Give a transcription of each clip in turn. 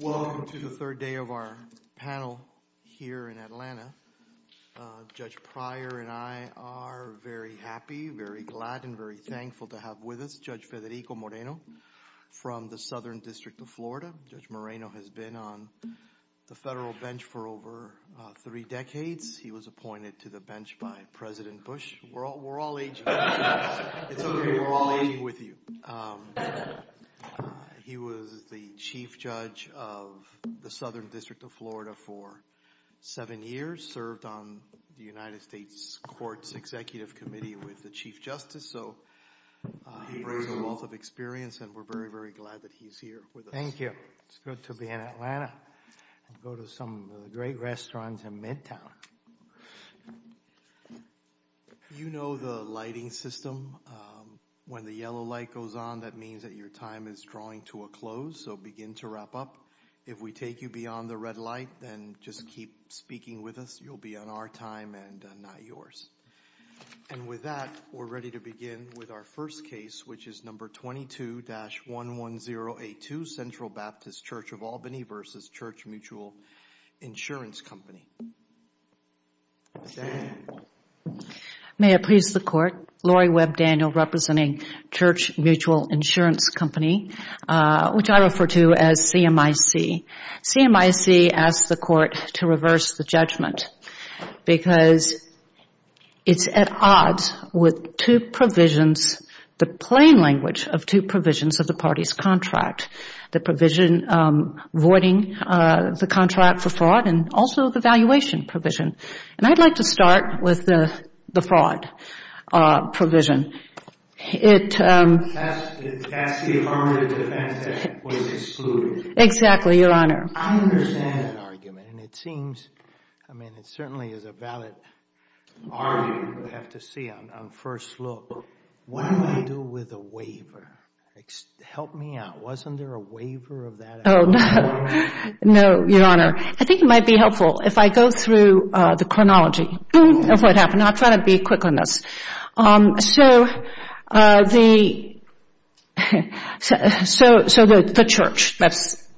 Welcome to the third day of our panel here in Atlanta. Judge Pryor and I are very happy, very glad, and very thankful to have with us Judge Federico Moreno from the Southern District of Florida. Judge Moreno has been on the federal bench for over three decades. He was appointed to the bench by President Bush. We're all aging with you. He was the Chief Judge of the Southern District of Florida for seven years, served on the United States Courts Executive Committee with the Chief Justice. So he brings a wealth of experience and we're very, very glad that he's here with us. Thank you. It's good to be in Atlanta and go to some great restaurants in Midtown. You know the lighting system. When the yellow light goes on, that means that your time is drawing to a close, so begin to wrap up. If we take you beyond the red light, then just keep speaking with us. You'll be on our time and not yours. And with that, we're ready to begin with our first case, which is number 22-11082 Central Baptist Church of Albany v. Church Mutual Insurance Company. May it please the Court, Laurie Webb Daniel representing Church Mutual Insurance Company, which I refer to as CMIC. CMIC asks the Court to reverse the judgment because it's at odds with two provisions, the plain language of two provisions of the party's contract. The provision voiding the contract for fraud and also the valuation provision. And I'd like to start with the fraud provision. It casts the affirmative defense that it was excluded. Exactly, Your Honor. I understand that argument and it seems, I mean, it certainly is a valid argument. We have to see on first look, what do I do with a waiver? Help me out. Wasn't there a waiver of that? Oh, no, Your Honor. I think it might be helpful if I go through the chronology of what happened. I'll try to be quick on this. So the church, that's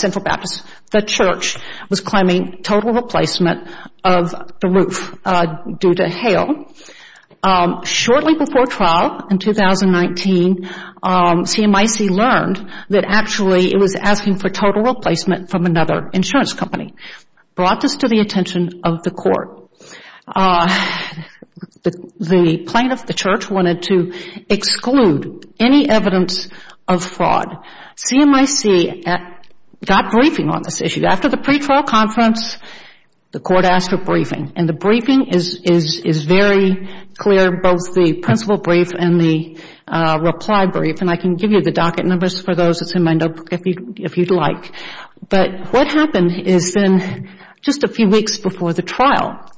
Central Baptist, the church was claiming total replacement of the roof due to hail. Shortly before trial in 2019, CMIC learned that actually it was asking for total replacement from another insurance company. Brought this to the attention of the Court. The plaintiff, the church, wanted to exclude any evidence of fraud. CMIC got briefing on this issue. After the pre-trial conference, the Court asked for briefing. And the briefing is very clear, both the principle brief and the reply brief. And I can give you the docket numbers for those that's in my notebook if you'd like. But what happened is then just a few weeks before the trial,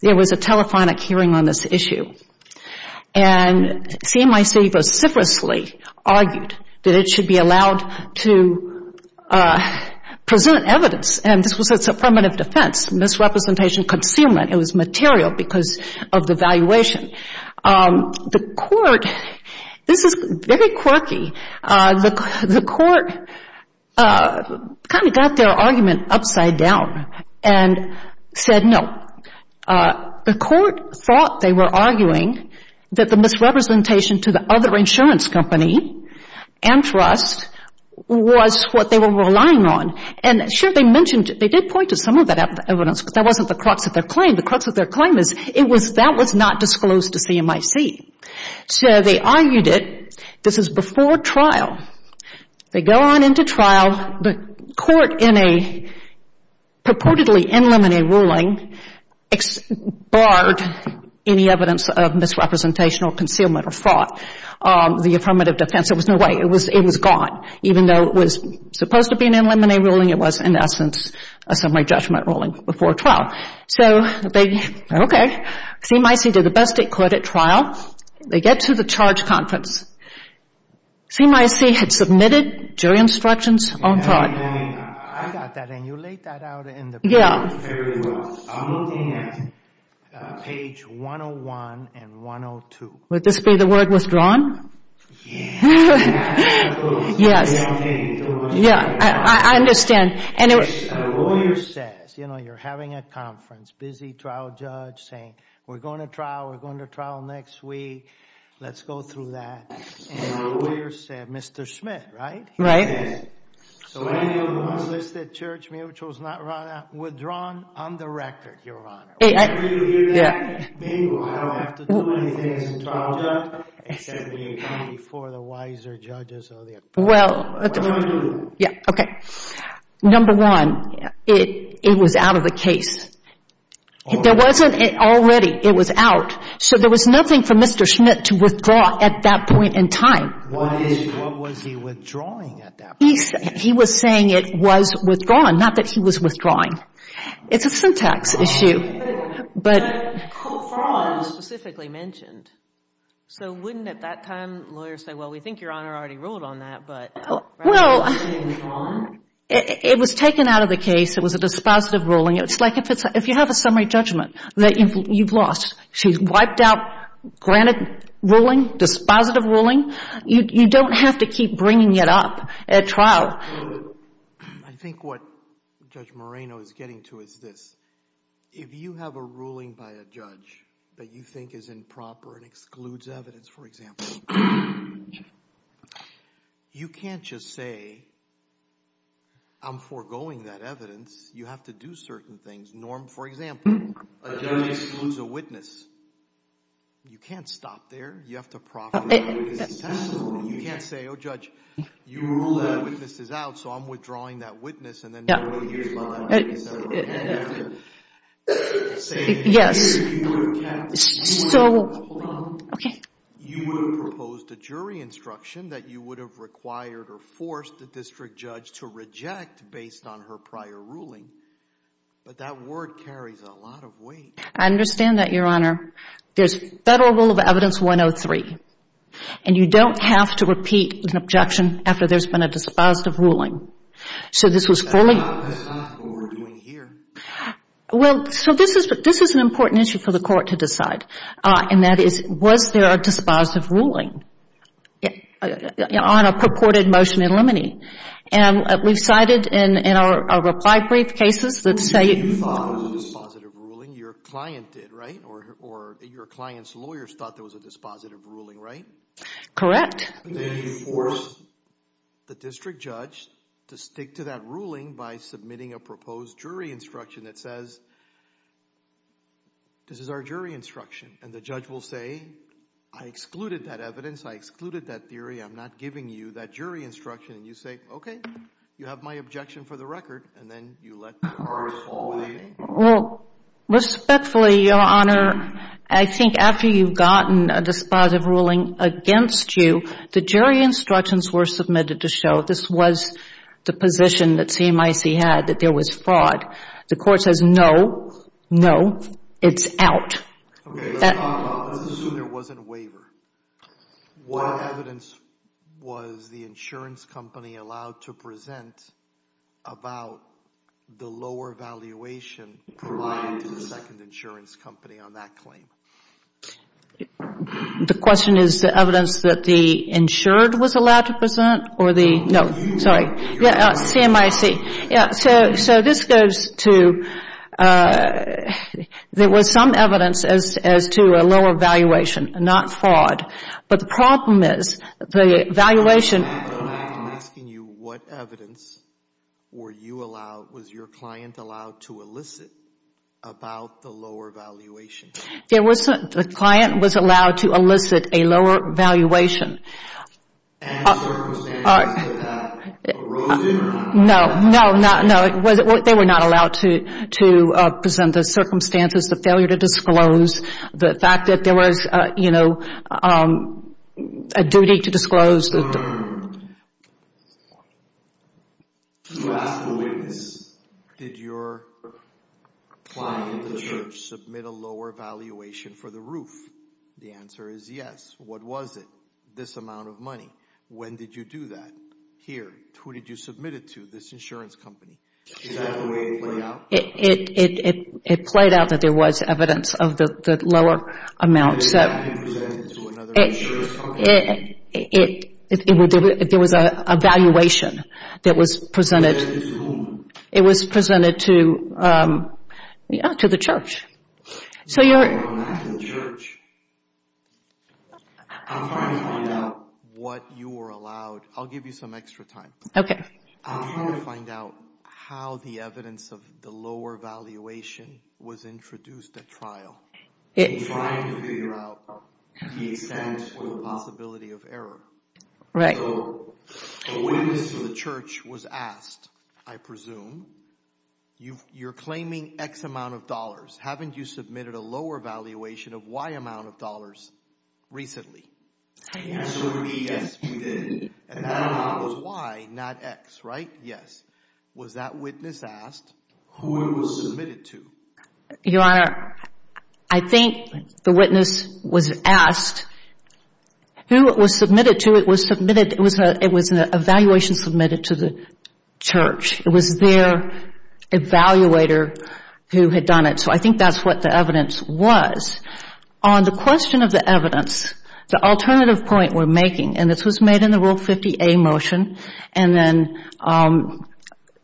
there was a telephonic hearing on this issue. And CMIC vociferously argued that it should be allowed to present evidence. And this was a affirmative defense, misrepresentation, concealment. It was material because of the valuation. The Court, this is very quirky, the Court kind of got their argument upside down and said no. The Court thought they were arguing that the misrepresentation to the other insurance company and trust was what they were relying on. And sure, they mentioned, they did point to some of that evidence, but that wasn't the crux of their claim. The crux of their claim is that was not disclosed to CMIC. So they argued it. This is before trial. They go on into trial, the Court in a purportedly in limine ruling barred any evidence of misrepresentation or concealment or fraud. The affirmative defense, there was no way, it was gone. Even though it was supposed to be an in limine ruling, it was in essence a summary judgment ruling before trial. So they, okay, CMIC did the best it could at trial. They get to the charge conference. CMIC had submitted jury instructions on fraud. I got that and you laid that out in the paper fairly well. I'm looking at page 101 and 102. Would this be the word withdrawn? Yeah. Yes. I understand. A lawyer says, you know, you're having a conference, busy trial judge saying, we're going to trial, we're going to trial next week. Let's go through that. And the lawyer said, Mr. Schmidt, right? Right. He said, so any of the unlisted church mutuals not withdrawn on the record, Your Honor. Whenever you hear that, maybe I don't have to do anything as a trial judge, except maybe before the wiser judges are there. Well, yeah, okay. Number one, it was out of the case. There wasn't already, it was out. So there was nothing for Mr. Schmidt to withdraw at that point in time. What is, what was he withdrawing at that point? He was saying it was withdrawn, not that he was withdrawing. It's a syntax issue. But fraud was specifically mentioned. So wouldn't at that time lawyers say, well, we think Your Honor already ruled on that. Well, it was taken out of the case. It was a dispositive ruling. It's like if you have a summary judgment that you've lost, she's wiped out, granted ruling, dispositive ruling, you don't have to keep bringing it up at trial. I think what Judge Moreno is getting to is this. If you have a ruling by a judge that you think is improper and excludes evidence, for example, you can't just say I'm foregoing that evidence. You have to do certain things. Norm, for example, a judge excludes a witness. You can't stop there. You have to profit from it. You can't say, oh, Judge, you ruled that witness is out, so I'm withdrawing that witness, and then nobody hears about it. Yes. So, okay. I understand that, Your Honor. There's Federal Rule of Evidence 103, and you don't have to repeat an objection after there's been a dispositive ruling. That's not what we're doing here. Well, so this is an important issue for the court to decide, and that is was there a dispositive ruling on a purported motion in limine. And we've cited in our reply brief cases that say— You thought there was a dispositive ruling. Your client did, right? Or your client's lawyers thought there was a dispositive ruling, right? Correct. Then you force the district judge to stick to that ruling by submitting a proposed jury instruction that says, this is our jury instruction. And the judge will say, I excluded that evidence. I excluded that theory. I'm not giving you that jury instruction. And you say, okay, you have my objection for the record, and then you let the court follow that. Well, respectfully, Your Honor, I think after you've gotten a dispositive ruling against you, the jury instructions were submitted to show this was the position that CMIC had, that there was fraud. The court says, no, no, it's out. Okay. Let's assume there wasn't a waiver. What evidence was the insurance company allowed to present about the lower valuation provided to the second insurance company on that claim? The question is the evidence that the insured was allowed to present or the no. CMIC. So this goes to there was some evidence as to a lower valuation, not fraud. But the problem is the valuation. I'm asking you what evidence were you allowed, was your client allowed to elicit about the lower valuation? The client was allowed to elicit a lower valuation. And circumstances that that arose in or not? No, no, no. They were not allowed to present the circumstances, the failure to disclose, the fact that there was, you know, a duty to disclose. You asked the witness, did your client, the church, submit a lower valuation for the roof? The answer is yes. What was it? This amount of money. When did you do that? Here. Who did you submit it to, this insurance company? Is that the way it played out? It played out that there was evidence of the lower amount. It was presented to another insurance company? There was a valuation that was presented. Presented to whom? It was presented to, yeah, to the church. You were allowed to the church. I'm trying to find out what you were allowed. I'll give you some extra time. Okay. I'm trying to find out how the evidence of the lower valuation was introduced at trial. I'm trying to figure out the extent or the possibility of error. Right. So a witness of the church was asked, I presume, you're claiming X amount of dollars. Haven't you submitted a lower valuation of Y amount of dollars recently? The answer would be yes, we did. And that amount was Y, not X, right? Yes. Was that witness asked who it was submitted to? Your Honor, I think the witness was asked who it was submitted to. It was an evaluation submitted to the church. It was their evaluator who had done it. So I think that's what the evidence was. On the question of the evidence, the alternative point we're making, and this was made in the Rule 50A motion and then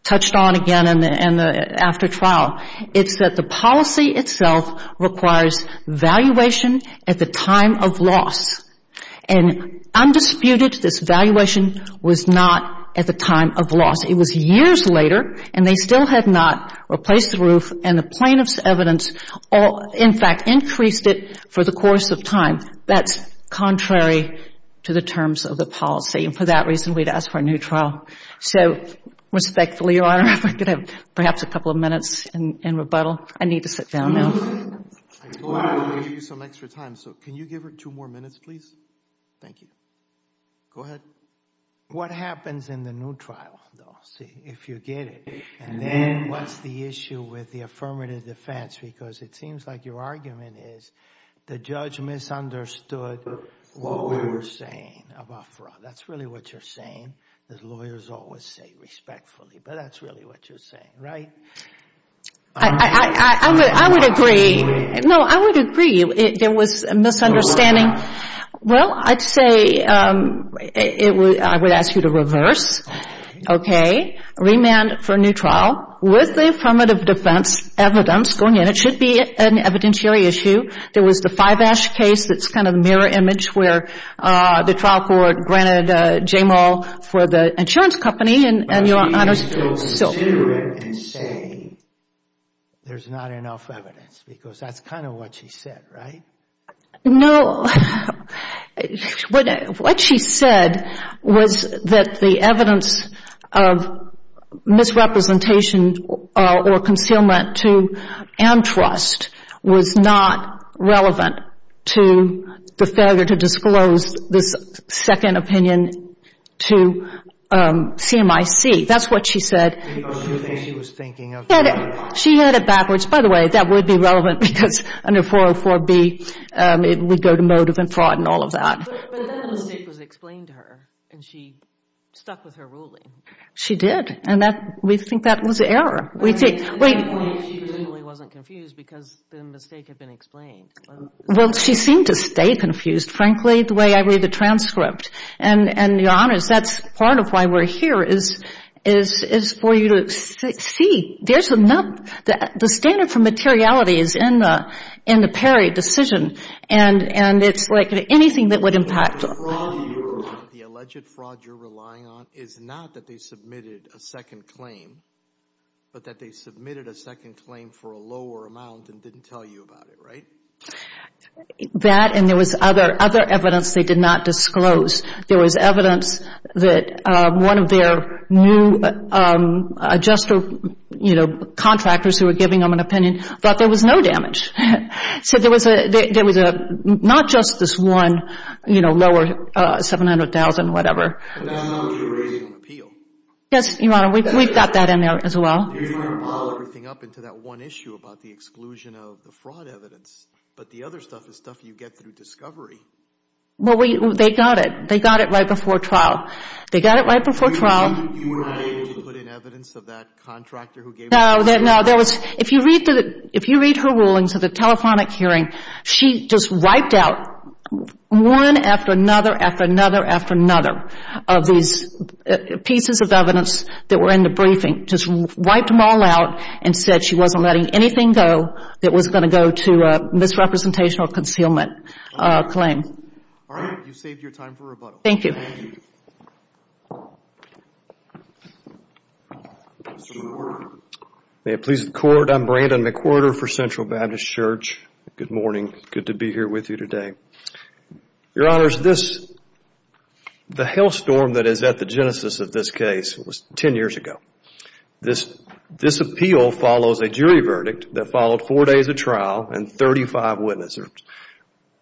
touched on again after trial, it's that the policy itself requires valuation at the time of loss. And undisputed, this valuation was not at the time of loss. It was years later and they still had not replaced the roof and the plaintiff's evidence, in fact, increased it for the course of time. That's contrary to the terms of the policy. And for that reason, we'd ask for a new trial. So respectfully, Your Honor, if we could have perhaps a couple of minutes in rebuttal. I need to sit down now. I do want to give you some extra time, so can you give her two more minutes, please? Thank you. Go ahead. What happens in the new trial, though, see, if you get it? And then what's the issue with the affirmative defense? Because it seems like your argument is the judge misunderstood what we were saying about fraud. That's really what you're saying. Lawyers always say respectfully, but that's really what you're saying, right? I would agree. No, I would agree there was a misunderstanding. Well, I'd say I would ask you to reverse. Okay. Okay, remand for new trial with the affirmative defense evidence going in. It should be an evidentiary issue. There was the Fivash case that's kind of a mirror image where the trial court granted J. Murrell for the insurance company, and Your Honor, so. But she didn't go to the jury and say there's not enough evidence because that's kind of what she said, right? No. What she said was that the evidence of misrepresentation or concealment to Amtrust was not relevant to the failure to disclose this second opinion to CMIC. That's what she said. She was thinking of. She had it backwards. By the way, that would be relevant because under 404B, it would go to motive and fraud and all of that. But then the mistake was explained to her, and she stuck with her ruling. She did, and we think that was error. We think. At that point, she really wasn't confused because the mistake had been explained. Well, she seemed to stay confused, frankly, the way I read the transcript. And Your Honor, that's part of why we're here is for you to see there's enough. The standard for materiality is in the Perry decision, and it's like anything that would impact. The alleged fraud you're relying on is not that they submitted a second claim, but that they submitted a second claim for a lower amount and didn't tell you about it, right? That and there was other evidence they did not disclose. There was evidence that one of their new adjuster, you know, contractors who were giving them an opinion thought there was no damage. So there was not just this one, you know, lower 700,000, whatever. And that's not what you're raising on appeal. Yes, Your Honor. We've got that in there as well. You're trying to pile everything up into that one issue about the exclusion of the fraud evidence, but the other stuff is stuff you get through discovery. Well, they got it. They got it right before trial. They got it right before trial. You were not able to put in evidence of that contractor who gave them an opinion? No. If you read her rulings of the telephonic hearing, she just wiped out one after another after another after another of these pieces of evidence that were in the briefing, just wiped them all out and said she wasn't letting anything go that was going to go to misrepresentation or concealment claim. All right. You've saved your time for rebuttal. Thank you. Thank you. May it please the Court, I'm Brandon McWhorter for Central Baptist Church. Good morning. Good to be here with you today. Your Honors, the hailstorm that is at the genesis of this case was ten years ago. This appeal follows a jury verdict that followed four days of trial and 35 witnesses.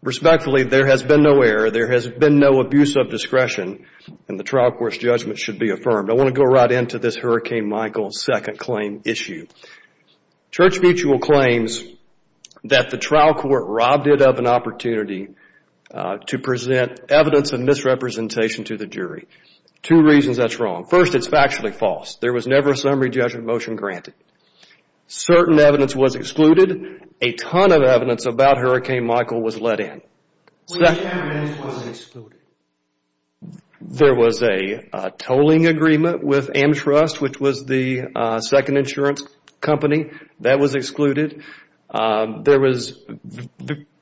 Respectfully, there has been no error. There has been no abuse of discretion, and the trial court's judgment should be affirmed. I want to go right into this Hurricane Michael second claim issue. Church Mutual claims that the trial court robbed it of an opportunity to present evidence of misrepresentation to the jury. Two reasons that's wrong. First, it's factually false. There was never a summary judgment motion granted. Certain evidence was excluded. A ton of evidence about Hurricane Michael was let in. Which evidence was excluded? There was a tolling agreement with Amtrust, which was the second insurance company. That was excluded. There was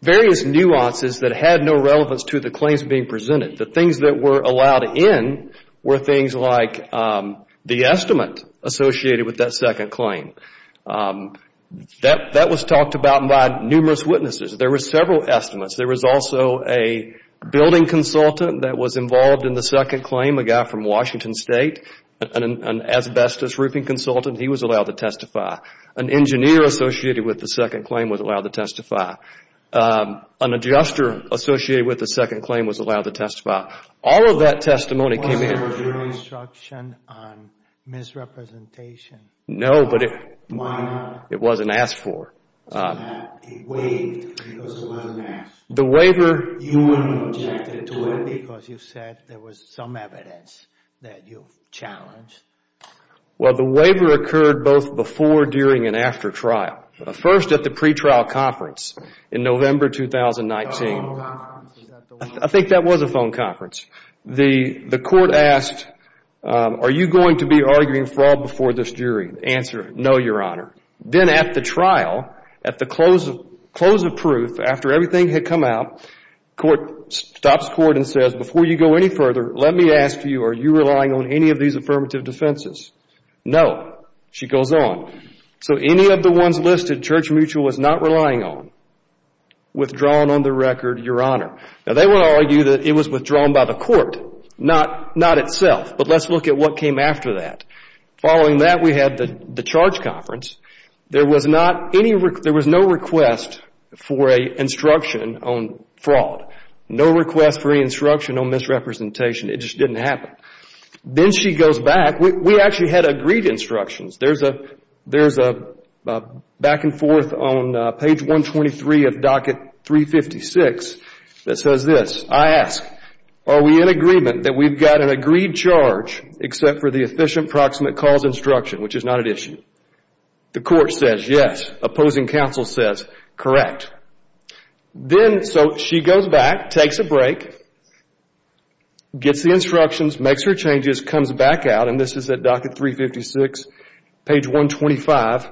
various nuances that had no relevance to the claims being presented. The things that were allowed in were things like the estimate associated with that second claim. That was talked about by numerous witnesses. There were several estimates. There was also a building consultant that was involved in the second claim, a guy from Washington State. An asbestos roofing consultant, he was allowed to testify. An engineer associated with the second claim was allowed to testify. An adjuster associated with the second claim was allowed to testify. All of that testimony came in. Wasn't there a jury instruction on misrepresentation? No, but it wasn't asked for. It waived because it wasn't asked for. You wouldn't object to it because you said there was some evidence that you challenged. Well, the waiver occurred both before, during, and after trial. First at the pretrial conference in November 2019. A phone conference. I think that was a phone conference. The court asked, are you going to be arguing fraud before this jury? The answer, no, Your Honor. Then at the trial, at the close of proof, after everything had come out, the court stops the court and says, before you go any further, let me ask you, are you relying on any of these affirmative defenses? No. She goes on. So any of the ones listed, Church Mutual was not relying on. Withdrawn on the record, Your Honor. Now, they would argue that it was withdrawn by the court, not itself. But let's look at what came after that. Following that, we had the charge conference. There was no request for an instruction on fraud. No request for any instruction on misrepresentation. It just didn't happen. Then she goes back. We actually had agreed instructions. There's a back and forth on page 123 of docket 356 that says this. I ask, are we in agreement that we've got an agreed charge except for the efficient proximate cause instruction, which is not at issue? The court says yes. Opposing counsel says correct. Then, so she goes back, takes a break, gets the instructions, makes her changes, comes back out, and this is at docket 356, page 125,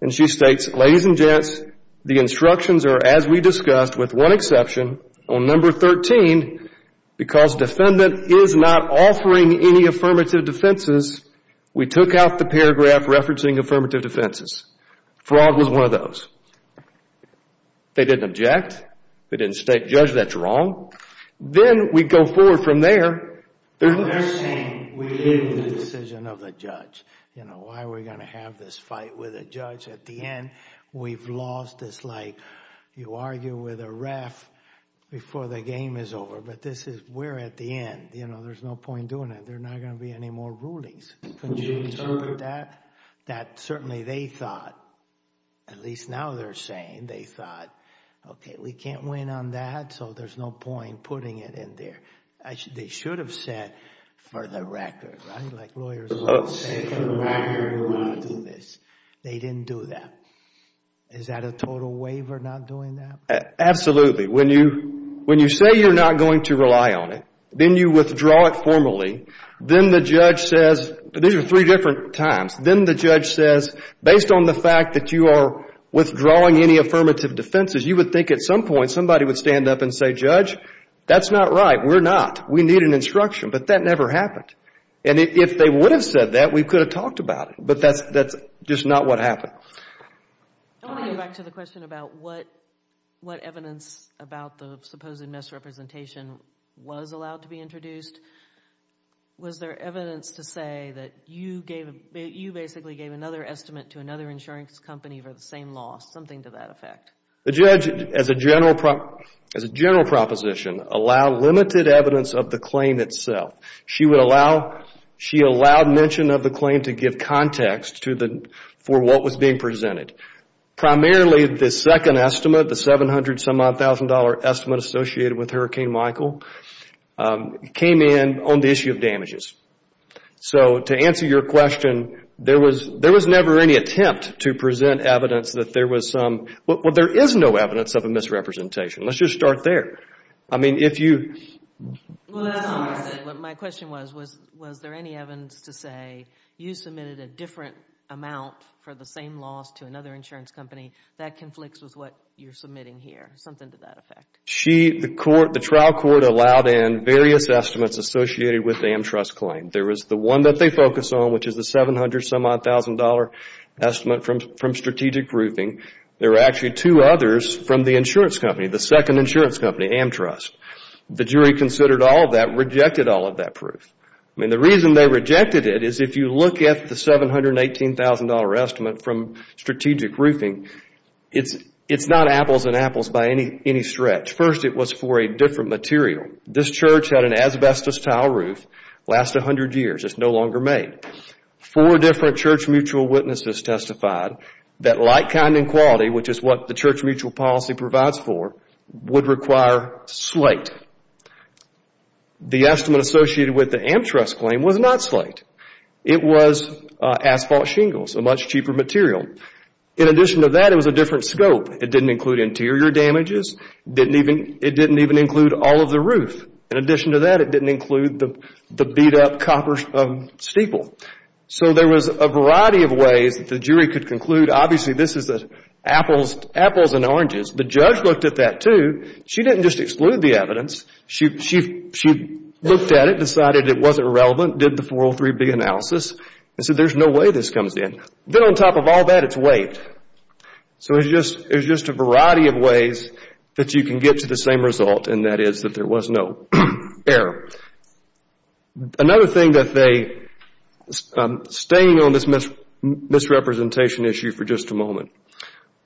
and she states, ladies and gents, the instructions are as we discussed with one exception, on number 13, because defendant is not offering any affirmative defenses, we took out the paragraph referencing affirmative defenses. Fraud was one of those. They didn't object. They didn't state, Judge, that's wrong. Then, we go forward from there. They're saying we're in the decision of the judge. Why are we going to have this fight with a judge at the end? We've lost. It's like you argue with a ref before the game is over, but this is, we're at the end. There's no point doing that. There are not going to be any more rulings. That certainly they thought, at least now they're saying, they thought, okay, we can't win on that, so there's no point putting it in there. They should have said, for the record, right, like lawyers always say, for the record, we're going to do this. They didn't do that. Is that a total waiver, not doing that? Absolutely. When you say you're not going to rely on it, then you withdraw it formally, then the judge says, these are three different times, then the judge says, based on the fact that you are withdrawing any affirmative defenses, you would think at some point somebody would stand up and say, Judge, that's not right. We're not. We need an instruction, but that never happened. If they would have said that, we could have talked about it, but that's just not what happened. I want to get back to the question about what evidence about the supposed misrepresentation was allowed to be introduced. Was there evidence to say that you basically gave another estimate to another insurance company for the same loss, something to that effect? The judge, as a general proposition, allowed limited evidence of the claim itself. She allowed mention of the claim to give context for what was being presented. Primarily, the second estimate, the $700,000 estimate associated with Hurricane Michael, came in on the issue of damages. To answer your question, there was never any attempt to present evidence that there was some. There is no evidence of a misrepresentation. Let's just start there. I mean, if you... Well, that's all I said. My question was, was there any evidence to say you submitted a different amount for the same loss to another insurance company that conflicts with what you're submitting here, something to that effect? The trial court allowed in various estimates associated with the Amtrust claim. There was the one that they focused on, which is the $700,000 estimate from strategic roofing. There were actually two others from the insurance company, the second insurance company, Amtrust. The jury considered all of that, rejected all of that proof. I mean, the reason they rejected it is if you look at the $718,000 estimate from strategic roofing, it's not apples and apples by any stretch. First, it was for a different material. This church had an asbestos tile roof, lasted 100 years. It's no longer made. Four different church mutual witnesses testified that like kind and quality, which is what the church mutual policy provides for, would require slate. The estimate associated with the Amtrust claim was not slate. It was asphalt shingles, a much cheaper material. In addition to that, it was a different scope. It didn't include interior damages. It didn't even include all of the roof. In addition to that, it didn't include the beat-up copper steeple. So there was a variety of ways that the jury could conclude, obviously, this is apples and oranges. The judge looked at that, too. She didn't just exclude the evidence. She looked at it, decided it wasn't relevant, did the 403B analysis and said, there's no way this comes in. Then on top of all that, it's weight. So there's just a variety of ways that you can get to the same result, and that is that there was no error. Another thing that they, staying on this misrepresentation issue for just a moment,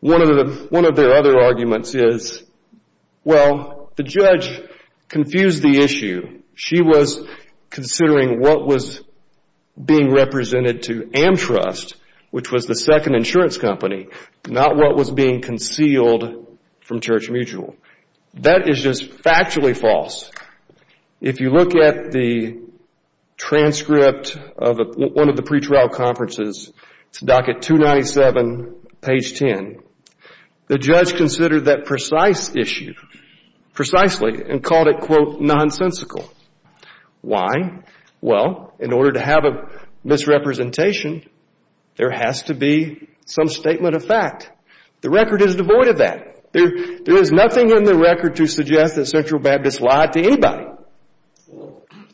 one of their other arguments is, well, the judge confused the issue. She was considering what was being represented to Amtrust, which was the second insurance company, not what was being concealed from church mutual. That is just factually false. If you look at the transcript of one of the pretrial conferences, it's docket 297, page 10. The judge considered that precise issue, precisely, and called it, quote, nonsensical. Why? Well, in order to have a misrepresentation, there has to be some statement of fact. The record is devoid of that. There is nothing in the record to suggest that Central Baptist lied to anybody.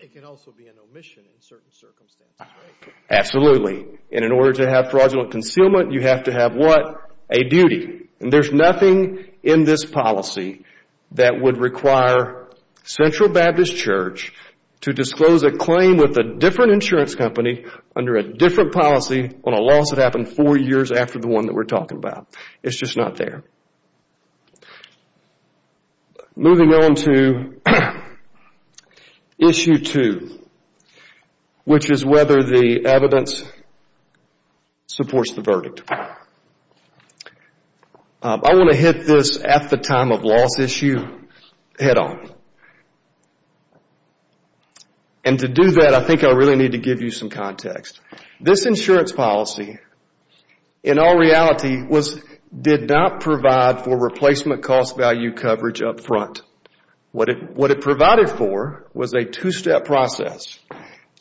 It can also be an omission in certain circumstances, right? Absolutely, and in order to have fraudulent concealment, you have to have what? A duty. And there's nothing in this policy that would require Central Baptist Church to disclose a claim with a different insurance company under a different policy on a loss that happened four years after the one that we're talking about. It's just not there. Moving on to issue two, which is whether the evidence supports the verdict. I want to hit this at-the-time-of-loss issue head on. And to do that, I think I really need to give you some context. This insurance policy, in all reality, did not provide for replacement cost value coverage up front. What it provided for was a two-step process.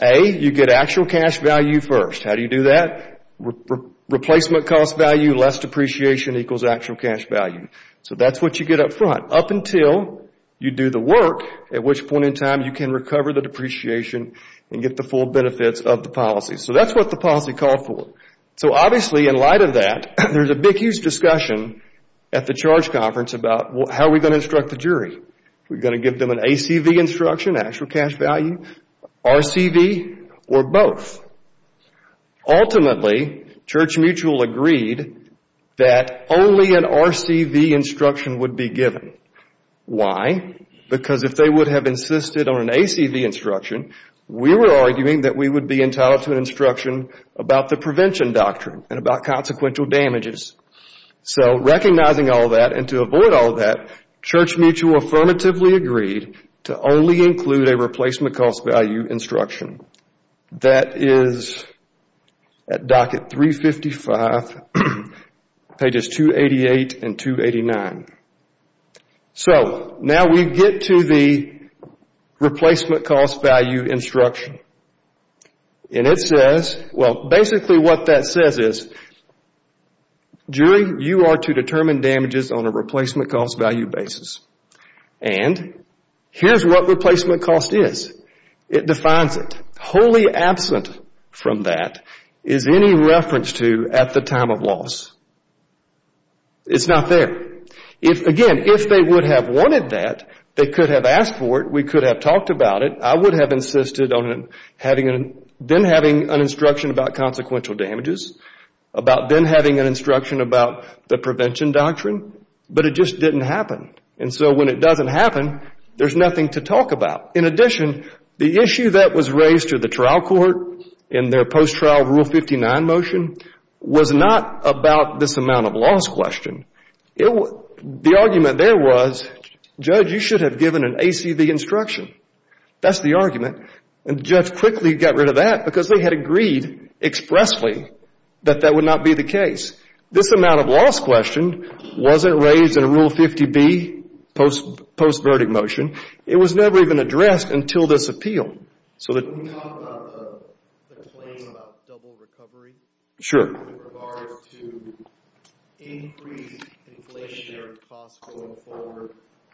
A, you get actual cash value first. How do you do that? Replacement cost value, less depreciation equals actual cash value. So that's what you get up front, up until you do the work, at which point in time you can recover the depreciation and get the full benefits of the policy. So that's what the policy called for. So obviously, in light of that, there's a big, huge discussion at the charge conference about, how are we going to instruct the jury? Are we going to give them an ACV instruction, actual cash value, RCV, or both? Ultimately, Church Mutual agreed that only an RCV instruction would be given. Why? Because if they would have insisted on an ACV instruction, we were arguing that we would be entitled to an instruction about the prevention doctrine and about consequential damages. So recognizing all that and to avoid all that, Church Mutual affirmatively agreed to only include a replacement cost value instruction. That is at docket 355, pages 288 and 289. So now we get to the replacement cost value instruction. And it says, well, basically what that says is, jury, you are to determine damages on a replacement cost value basis. And here's what replacement cost is. It defines it. Wholly absent from that is any reference to at the time of loss. It's not there. Again, if they would have wanted that, they could have asked for it. We could have talked about it. I would have insisted on then having an instruction about consequential damages, about then having an instruction about the prevention doctrine, but it just didn't happen. And so when it doesn't happen, there's nothing to talk about. In addition, the issue that was raised to the trial court in their post-trial Rule 59 motion was not about this amount of loss question. The argument there was, Judge, you should have given an ACV instruction. That's the argument. And the judge quickly got rid of that because they had agreed expressly that that would not be the case. This amount of loss question wasn't raised in Rule 50B, post-verdict motion. It was never even addressed until this appeal. Can you talk about the claim about double recovery? Sure. In regards to increased inflationary costs going forward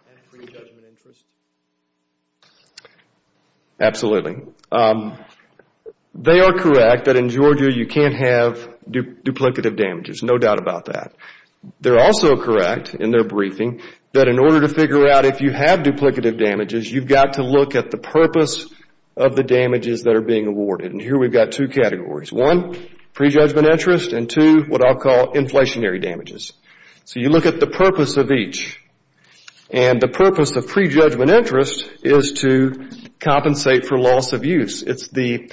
and prejudgment interest? Absolutely. They are correct that in Georgia you can't have duplicative damages, no doubt about that. They're also correct in their briefing that in order to figure out if you have duplicative damages, you've got to look at the purpose of the damages that are being awarded. And here we've got two categories. One, prejudgment interest, and two, what I'll call inflationary damages. So you look at the purpose of each. And the purpose of prejudgment interest is to compensate for loss of use. It's the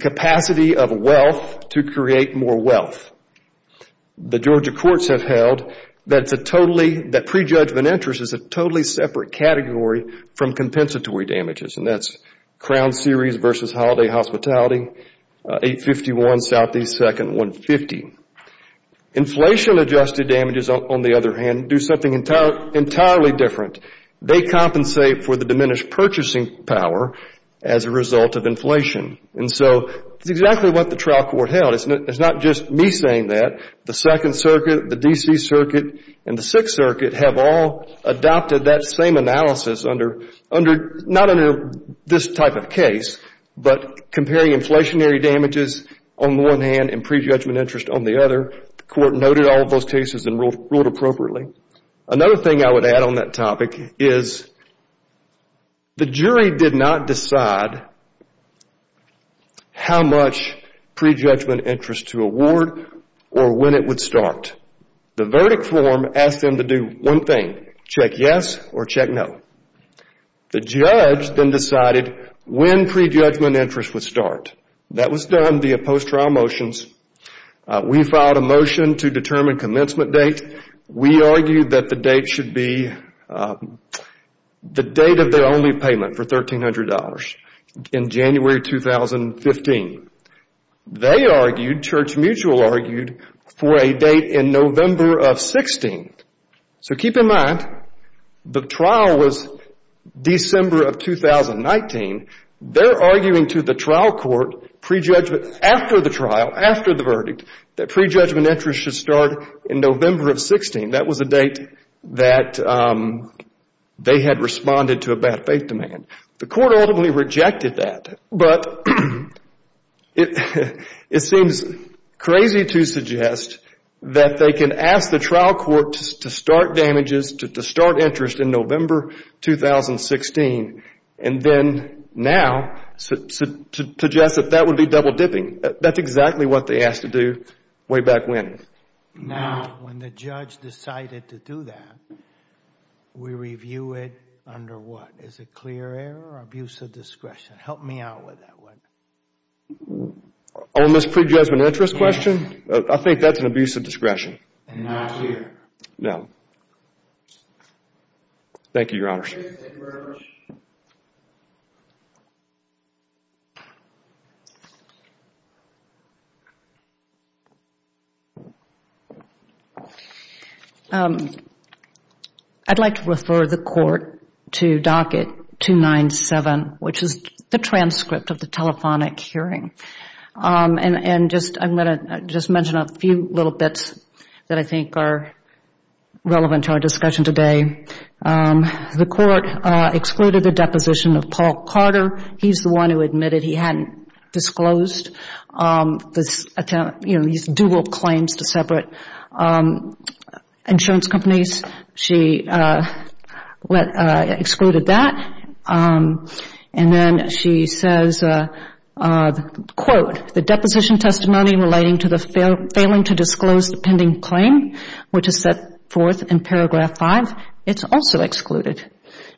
capacity of wealth to create more wealth. The Georgia courts have held that prejudgment interest is a totally separate category from compensatory damages, and that's Crown Series versus Holiday Hospitality, 851 Southeast 2nd, 150. Inflation-adjusted damages, on the other hand, do something entirely different. They compensate for the diminished purchasing power as a result of inflation. And so it's exactly what the trial court held. It's not just me saying that. The Second Circuit, the D.C. Circuit, and the Sixth Circuit have all adopted that same analysis under, not under this type of case, but comparing inflationary damages on the one hand and prejudgment interest on the other. The court noted all of those cases and ruled appropriately. Another thing I would add on that topic is the jury did not decide how much prejudgment interest to award or when it would start. The verdict form asked them to do one thing, check yes or check no. The judge then decided when prejudgment interest would start. That was done via post-trial motions. We filed a motion to determine commencement date. We argued that the date should be the date of the only payment for $1,300 in January 2015. They argued, Church Mutual argued, for a date in November of 16. So keep in mind, the trial was December of 2019. They're arguing to the trial court prejudgment after the trial, after the verdict, that prejudgment interest should start in November of 16. That was the date that they had responded to a bad faith demand. The court ultimately rejected that. But it seems crazy to suggest that they can ask the trial court to start damages, to start interest in November 2016, and then now suggest that that would be double-dipping. That's exactly what they asked to do way back when. Now, when the judge decided to do that, we review it under what? Is it clear error or abuse of discretion? Help me out with that one. On this prejudgment interest question? I think that's an abuse of discretion. Not here. No. Thank you, Your Honor. Thank you very much. I'd like to refer the court to docket 297, which is the transcript of the telephonic hearing. And I'm going to just mention a few little bits that I think are relevant to our discussion today. The court excluded the deposition of Paul Carter. He's the one who admitted he hadn't disclosed these dual claims to separate insurance companies. She excluded that. And then she says, quote, The deposition testimony relating to the failing to disclose the pending claim, which is set forth in paragraph 5, it's also excluded.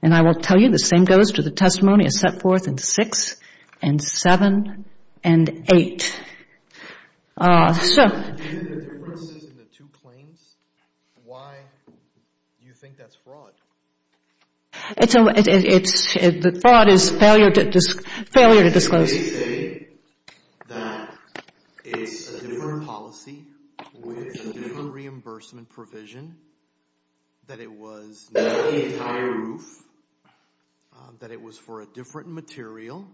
And I will tell you the same goes to the testimony as set forth in 6 and 7 and 8. Is there a difference in the two claims? Why do you think that's fraud? Fraud is failure to disclose. They say that it's a different policy with a different reimbursement provision, that it was not the entire roof, that it was for a different material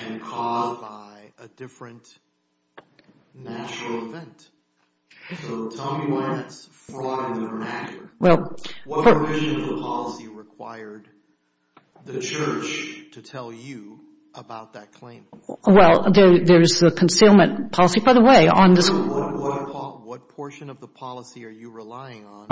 and caused by a different natural event. So tell me why that's fraud in the vernacular. What provision of the policy required the church to tell you about that claim? Well, there's a concealment policy, by the way, on this. What portion of the policy are you relying on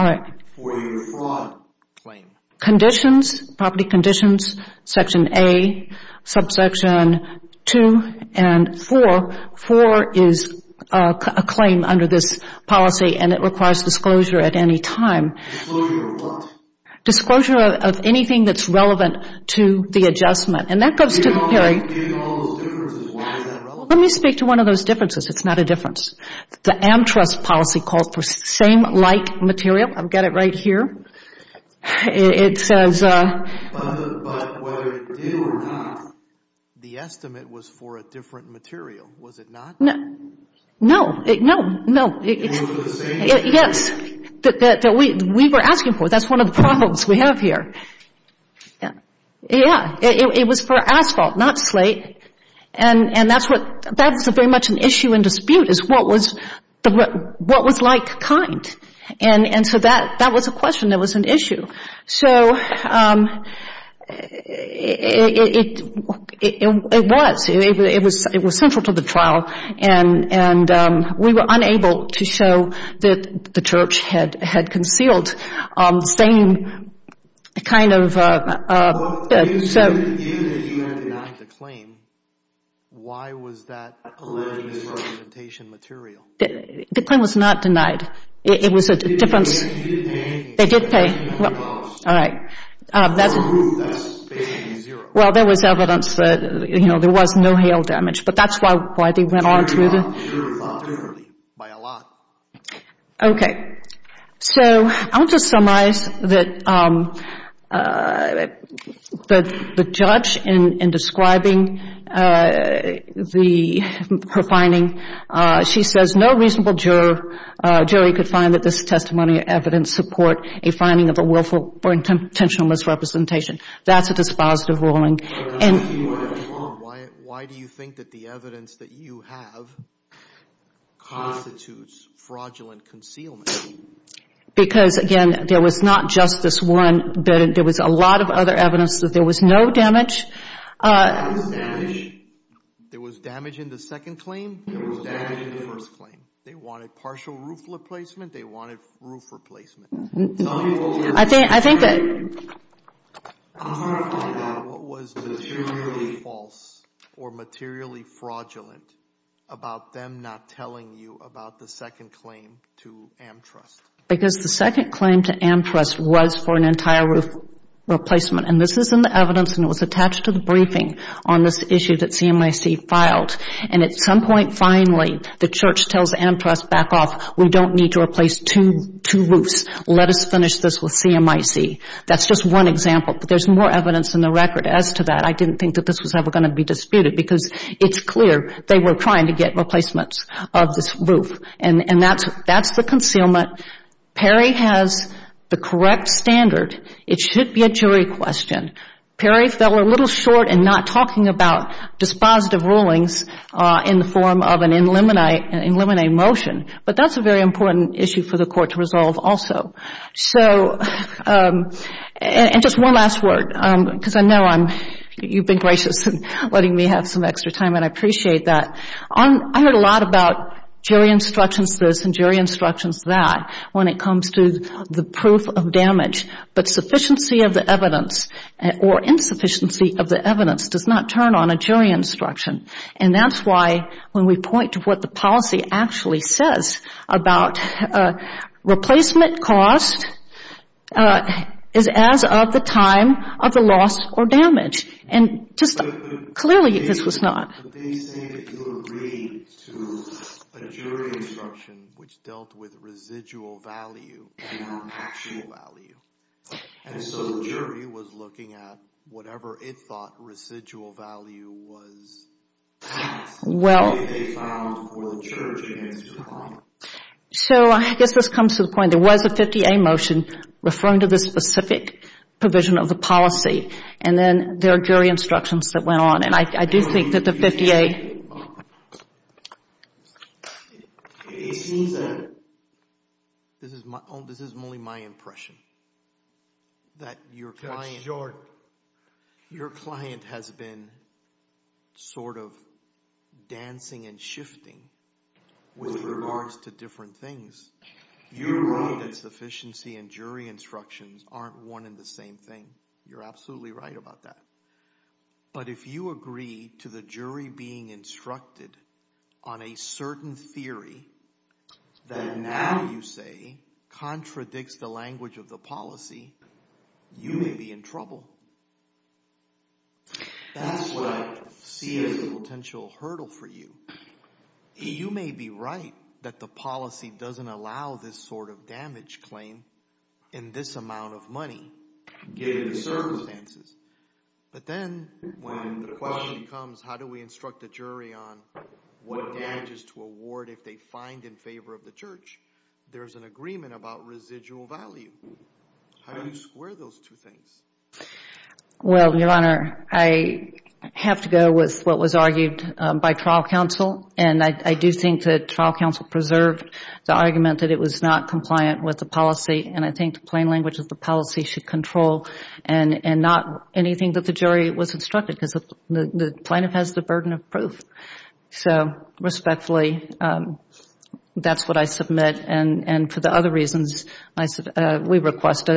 for your fraud claim? Conditions, property conditions, section A, subsection 2 and 4. So 4 is a claim under this policy, and it requires disclosure at any time. Disclosure of what? Disclosure of anything that's relevant to the adjustment. And that goes to the period. You have all those differences. Why is that relevant? Let me speak to one of those differences. It's not a difference. The Amtrust policy called for same-like material. I've got it right here. It says. But whether it did or not, the estimate was for a different material. Was it not? No. No. It was for the same material? Yes. That we were asking for. That's one of the problems we have here. Yeah. It was for asphalt, not slate. And that's very much an issue and dispute is what was like kind. And so that was a question that was an issue. So it was. It was central to the trial. And we were unable to show that the church had concealed the same kind of. Well, you said that you had denied the claim. Why was that alleged representation material? The claim was not denied. It was a difference. They did pay. All right. Well, there was evidence that, you know, there was no hail damage. But that's why they went on through the. By a lot. Okay. So I want to summarize that the judge in describing her finding, she says no reasonable jury could find that this testimony or evidence support a finding of a willful or intentional misrepresentation. That's a dispositive ruling. Why do you think that the evidence that you have constitutes fraudulent concealment? Because, again, there was not just this one. There was a lot of other evidence that there was no damage. There was damage. There was damage in the second claim? There was damage in the first claim. They wanted partial roof replacement? They wanted roof replacement? I think that. What was materially false or materially fraudulent about them not telling you about the second claim to Amtrust? Because the second claim to Amtrust was for an entire roof replacement. And this is in the evidence, and it was attached to the briefing on this issue that CMIC filed. And at some point, finally, the church tells Amtrust back off. We don't need to replace two roofs. Let us finish this with CMIC. That's just one example. But there's more evidence in the record as to that. I didn't think that this was ever going to be disputed because it's clear they were trying to get replacements of this roof. And that's the concealment. Perry has the correct standard. It should be a jury question. Perry fell a little short in not talking about dispositive rulings in the form of an in limine motion. But that's a very important issue for the court to resolve also. And just one last word, because I know you've been gracious in letting me have some extra time, and I appreciate that. I heard a lot about jury instructions this and jury instructions that when it comes to the proof of damage. But sufficiency of the evidence or insufficiency of the evidence does not turn on a jury instruction. And that's why when we point to what the policy actually says about replacement cost is as of the time of the loss or damage. And just clearly this was not. But they say that you agreed to a jury instruction which dealt with residual value and not actual value. And so the jury was looking at whatever it thought residual value was. Well. So I guess this comes to the point, there was a 50A motion referring to the specific provision of the policy. And then there are jury instructions that went on. And I do think that the 50A. This is only my impression. That your client has been sort of dancing and shifting with regards to different things. You agree that sufficiency and jury instructions aren't one and the same thing. You're absolutely right about that. But if you agree to the jury being instructed on a certain theory that now you say contradicts the language of the policy, you may be in trouble. That's what I see as a potential hurdle for you. You may be right that the policy doesn't allow this sort of damage claim in this amount of money given the circumstances. But then when the question becomes how do we instruct the jury on what damages to award if they find in favor of the church, there's an agreement about residual value. How do you square those two things? Well, Your Honor, I have to go with what was argued by trial counsel. And I do think that trial counsel preserved the argument that it was not compliant with the policy. And I think the plain language of the policy should control and not anything that the jury was instructed because the plaintiff has the burden of proof. So respectfully, that's what I submit. And for the other reasons, we request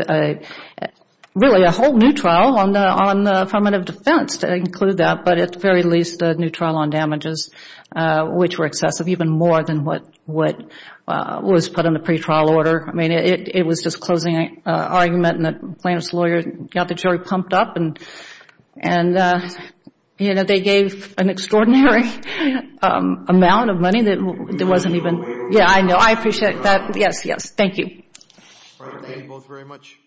really a whole new trial on affirmative defense to include that, but at the very least a new trial on damages which were excessive even more than what was put in the pretrial order. I mean, it was disclosing an argument and the plaintiff's lawyer got the jury pumped up. And, you know, they gave an extraordinary amount of money that wasn't even. Yeah, I know. I appreciate that. Yes, yes. Thank you. Thank you both very much.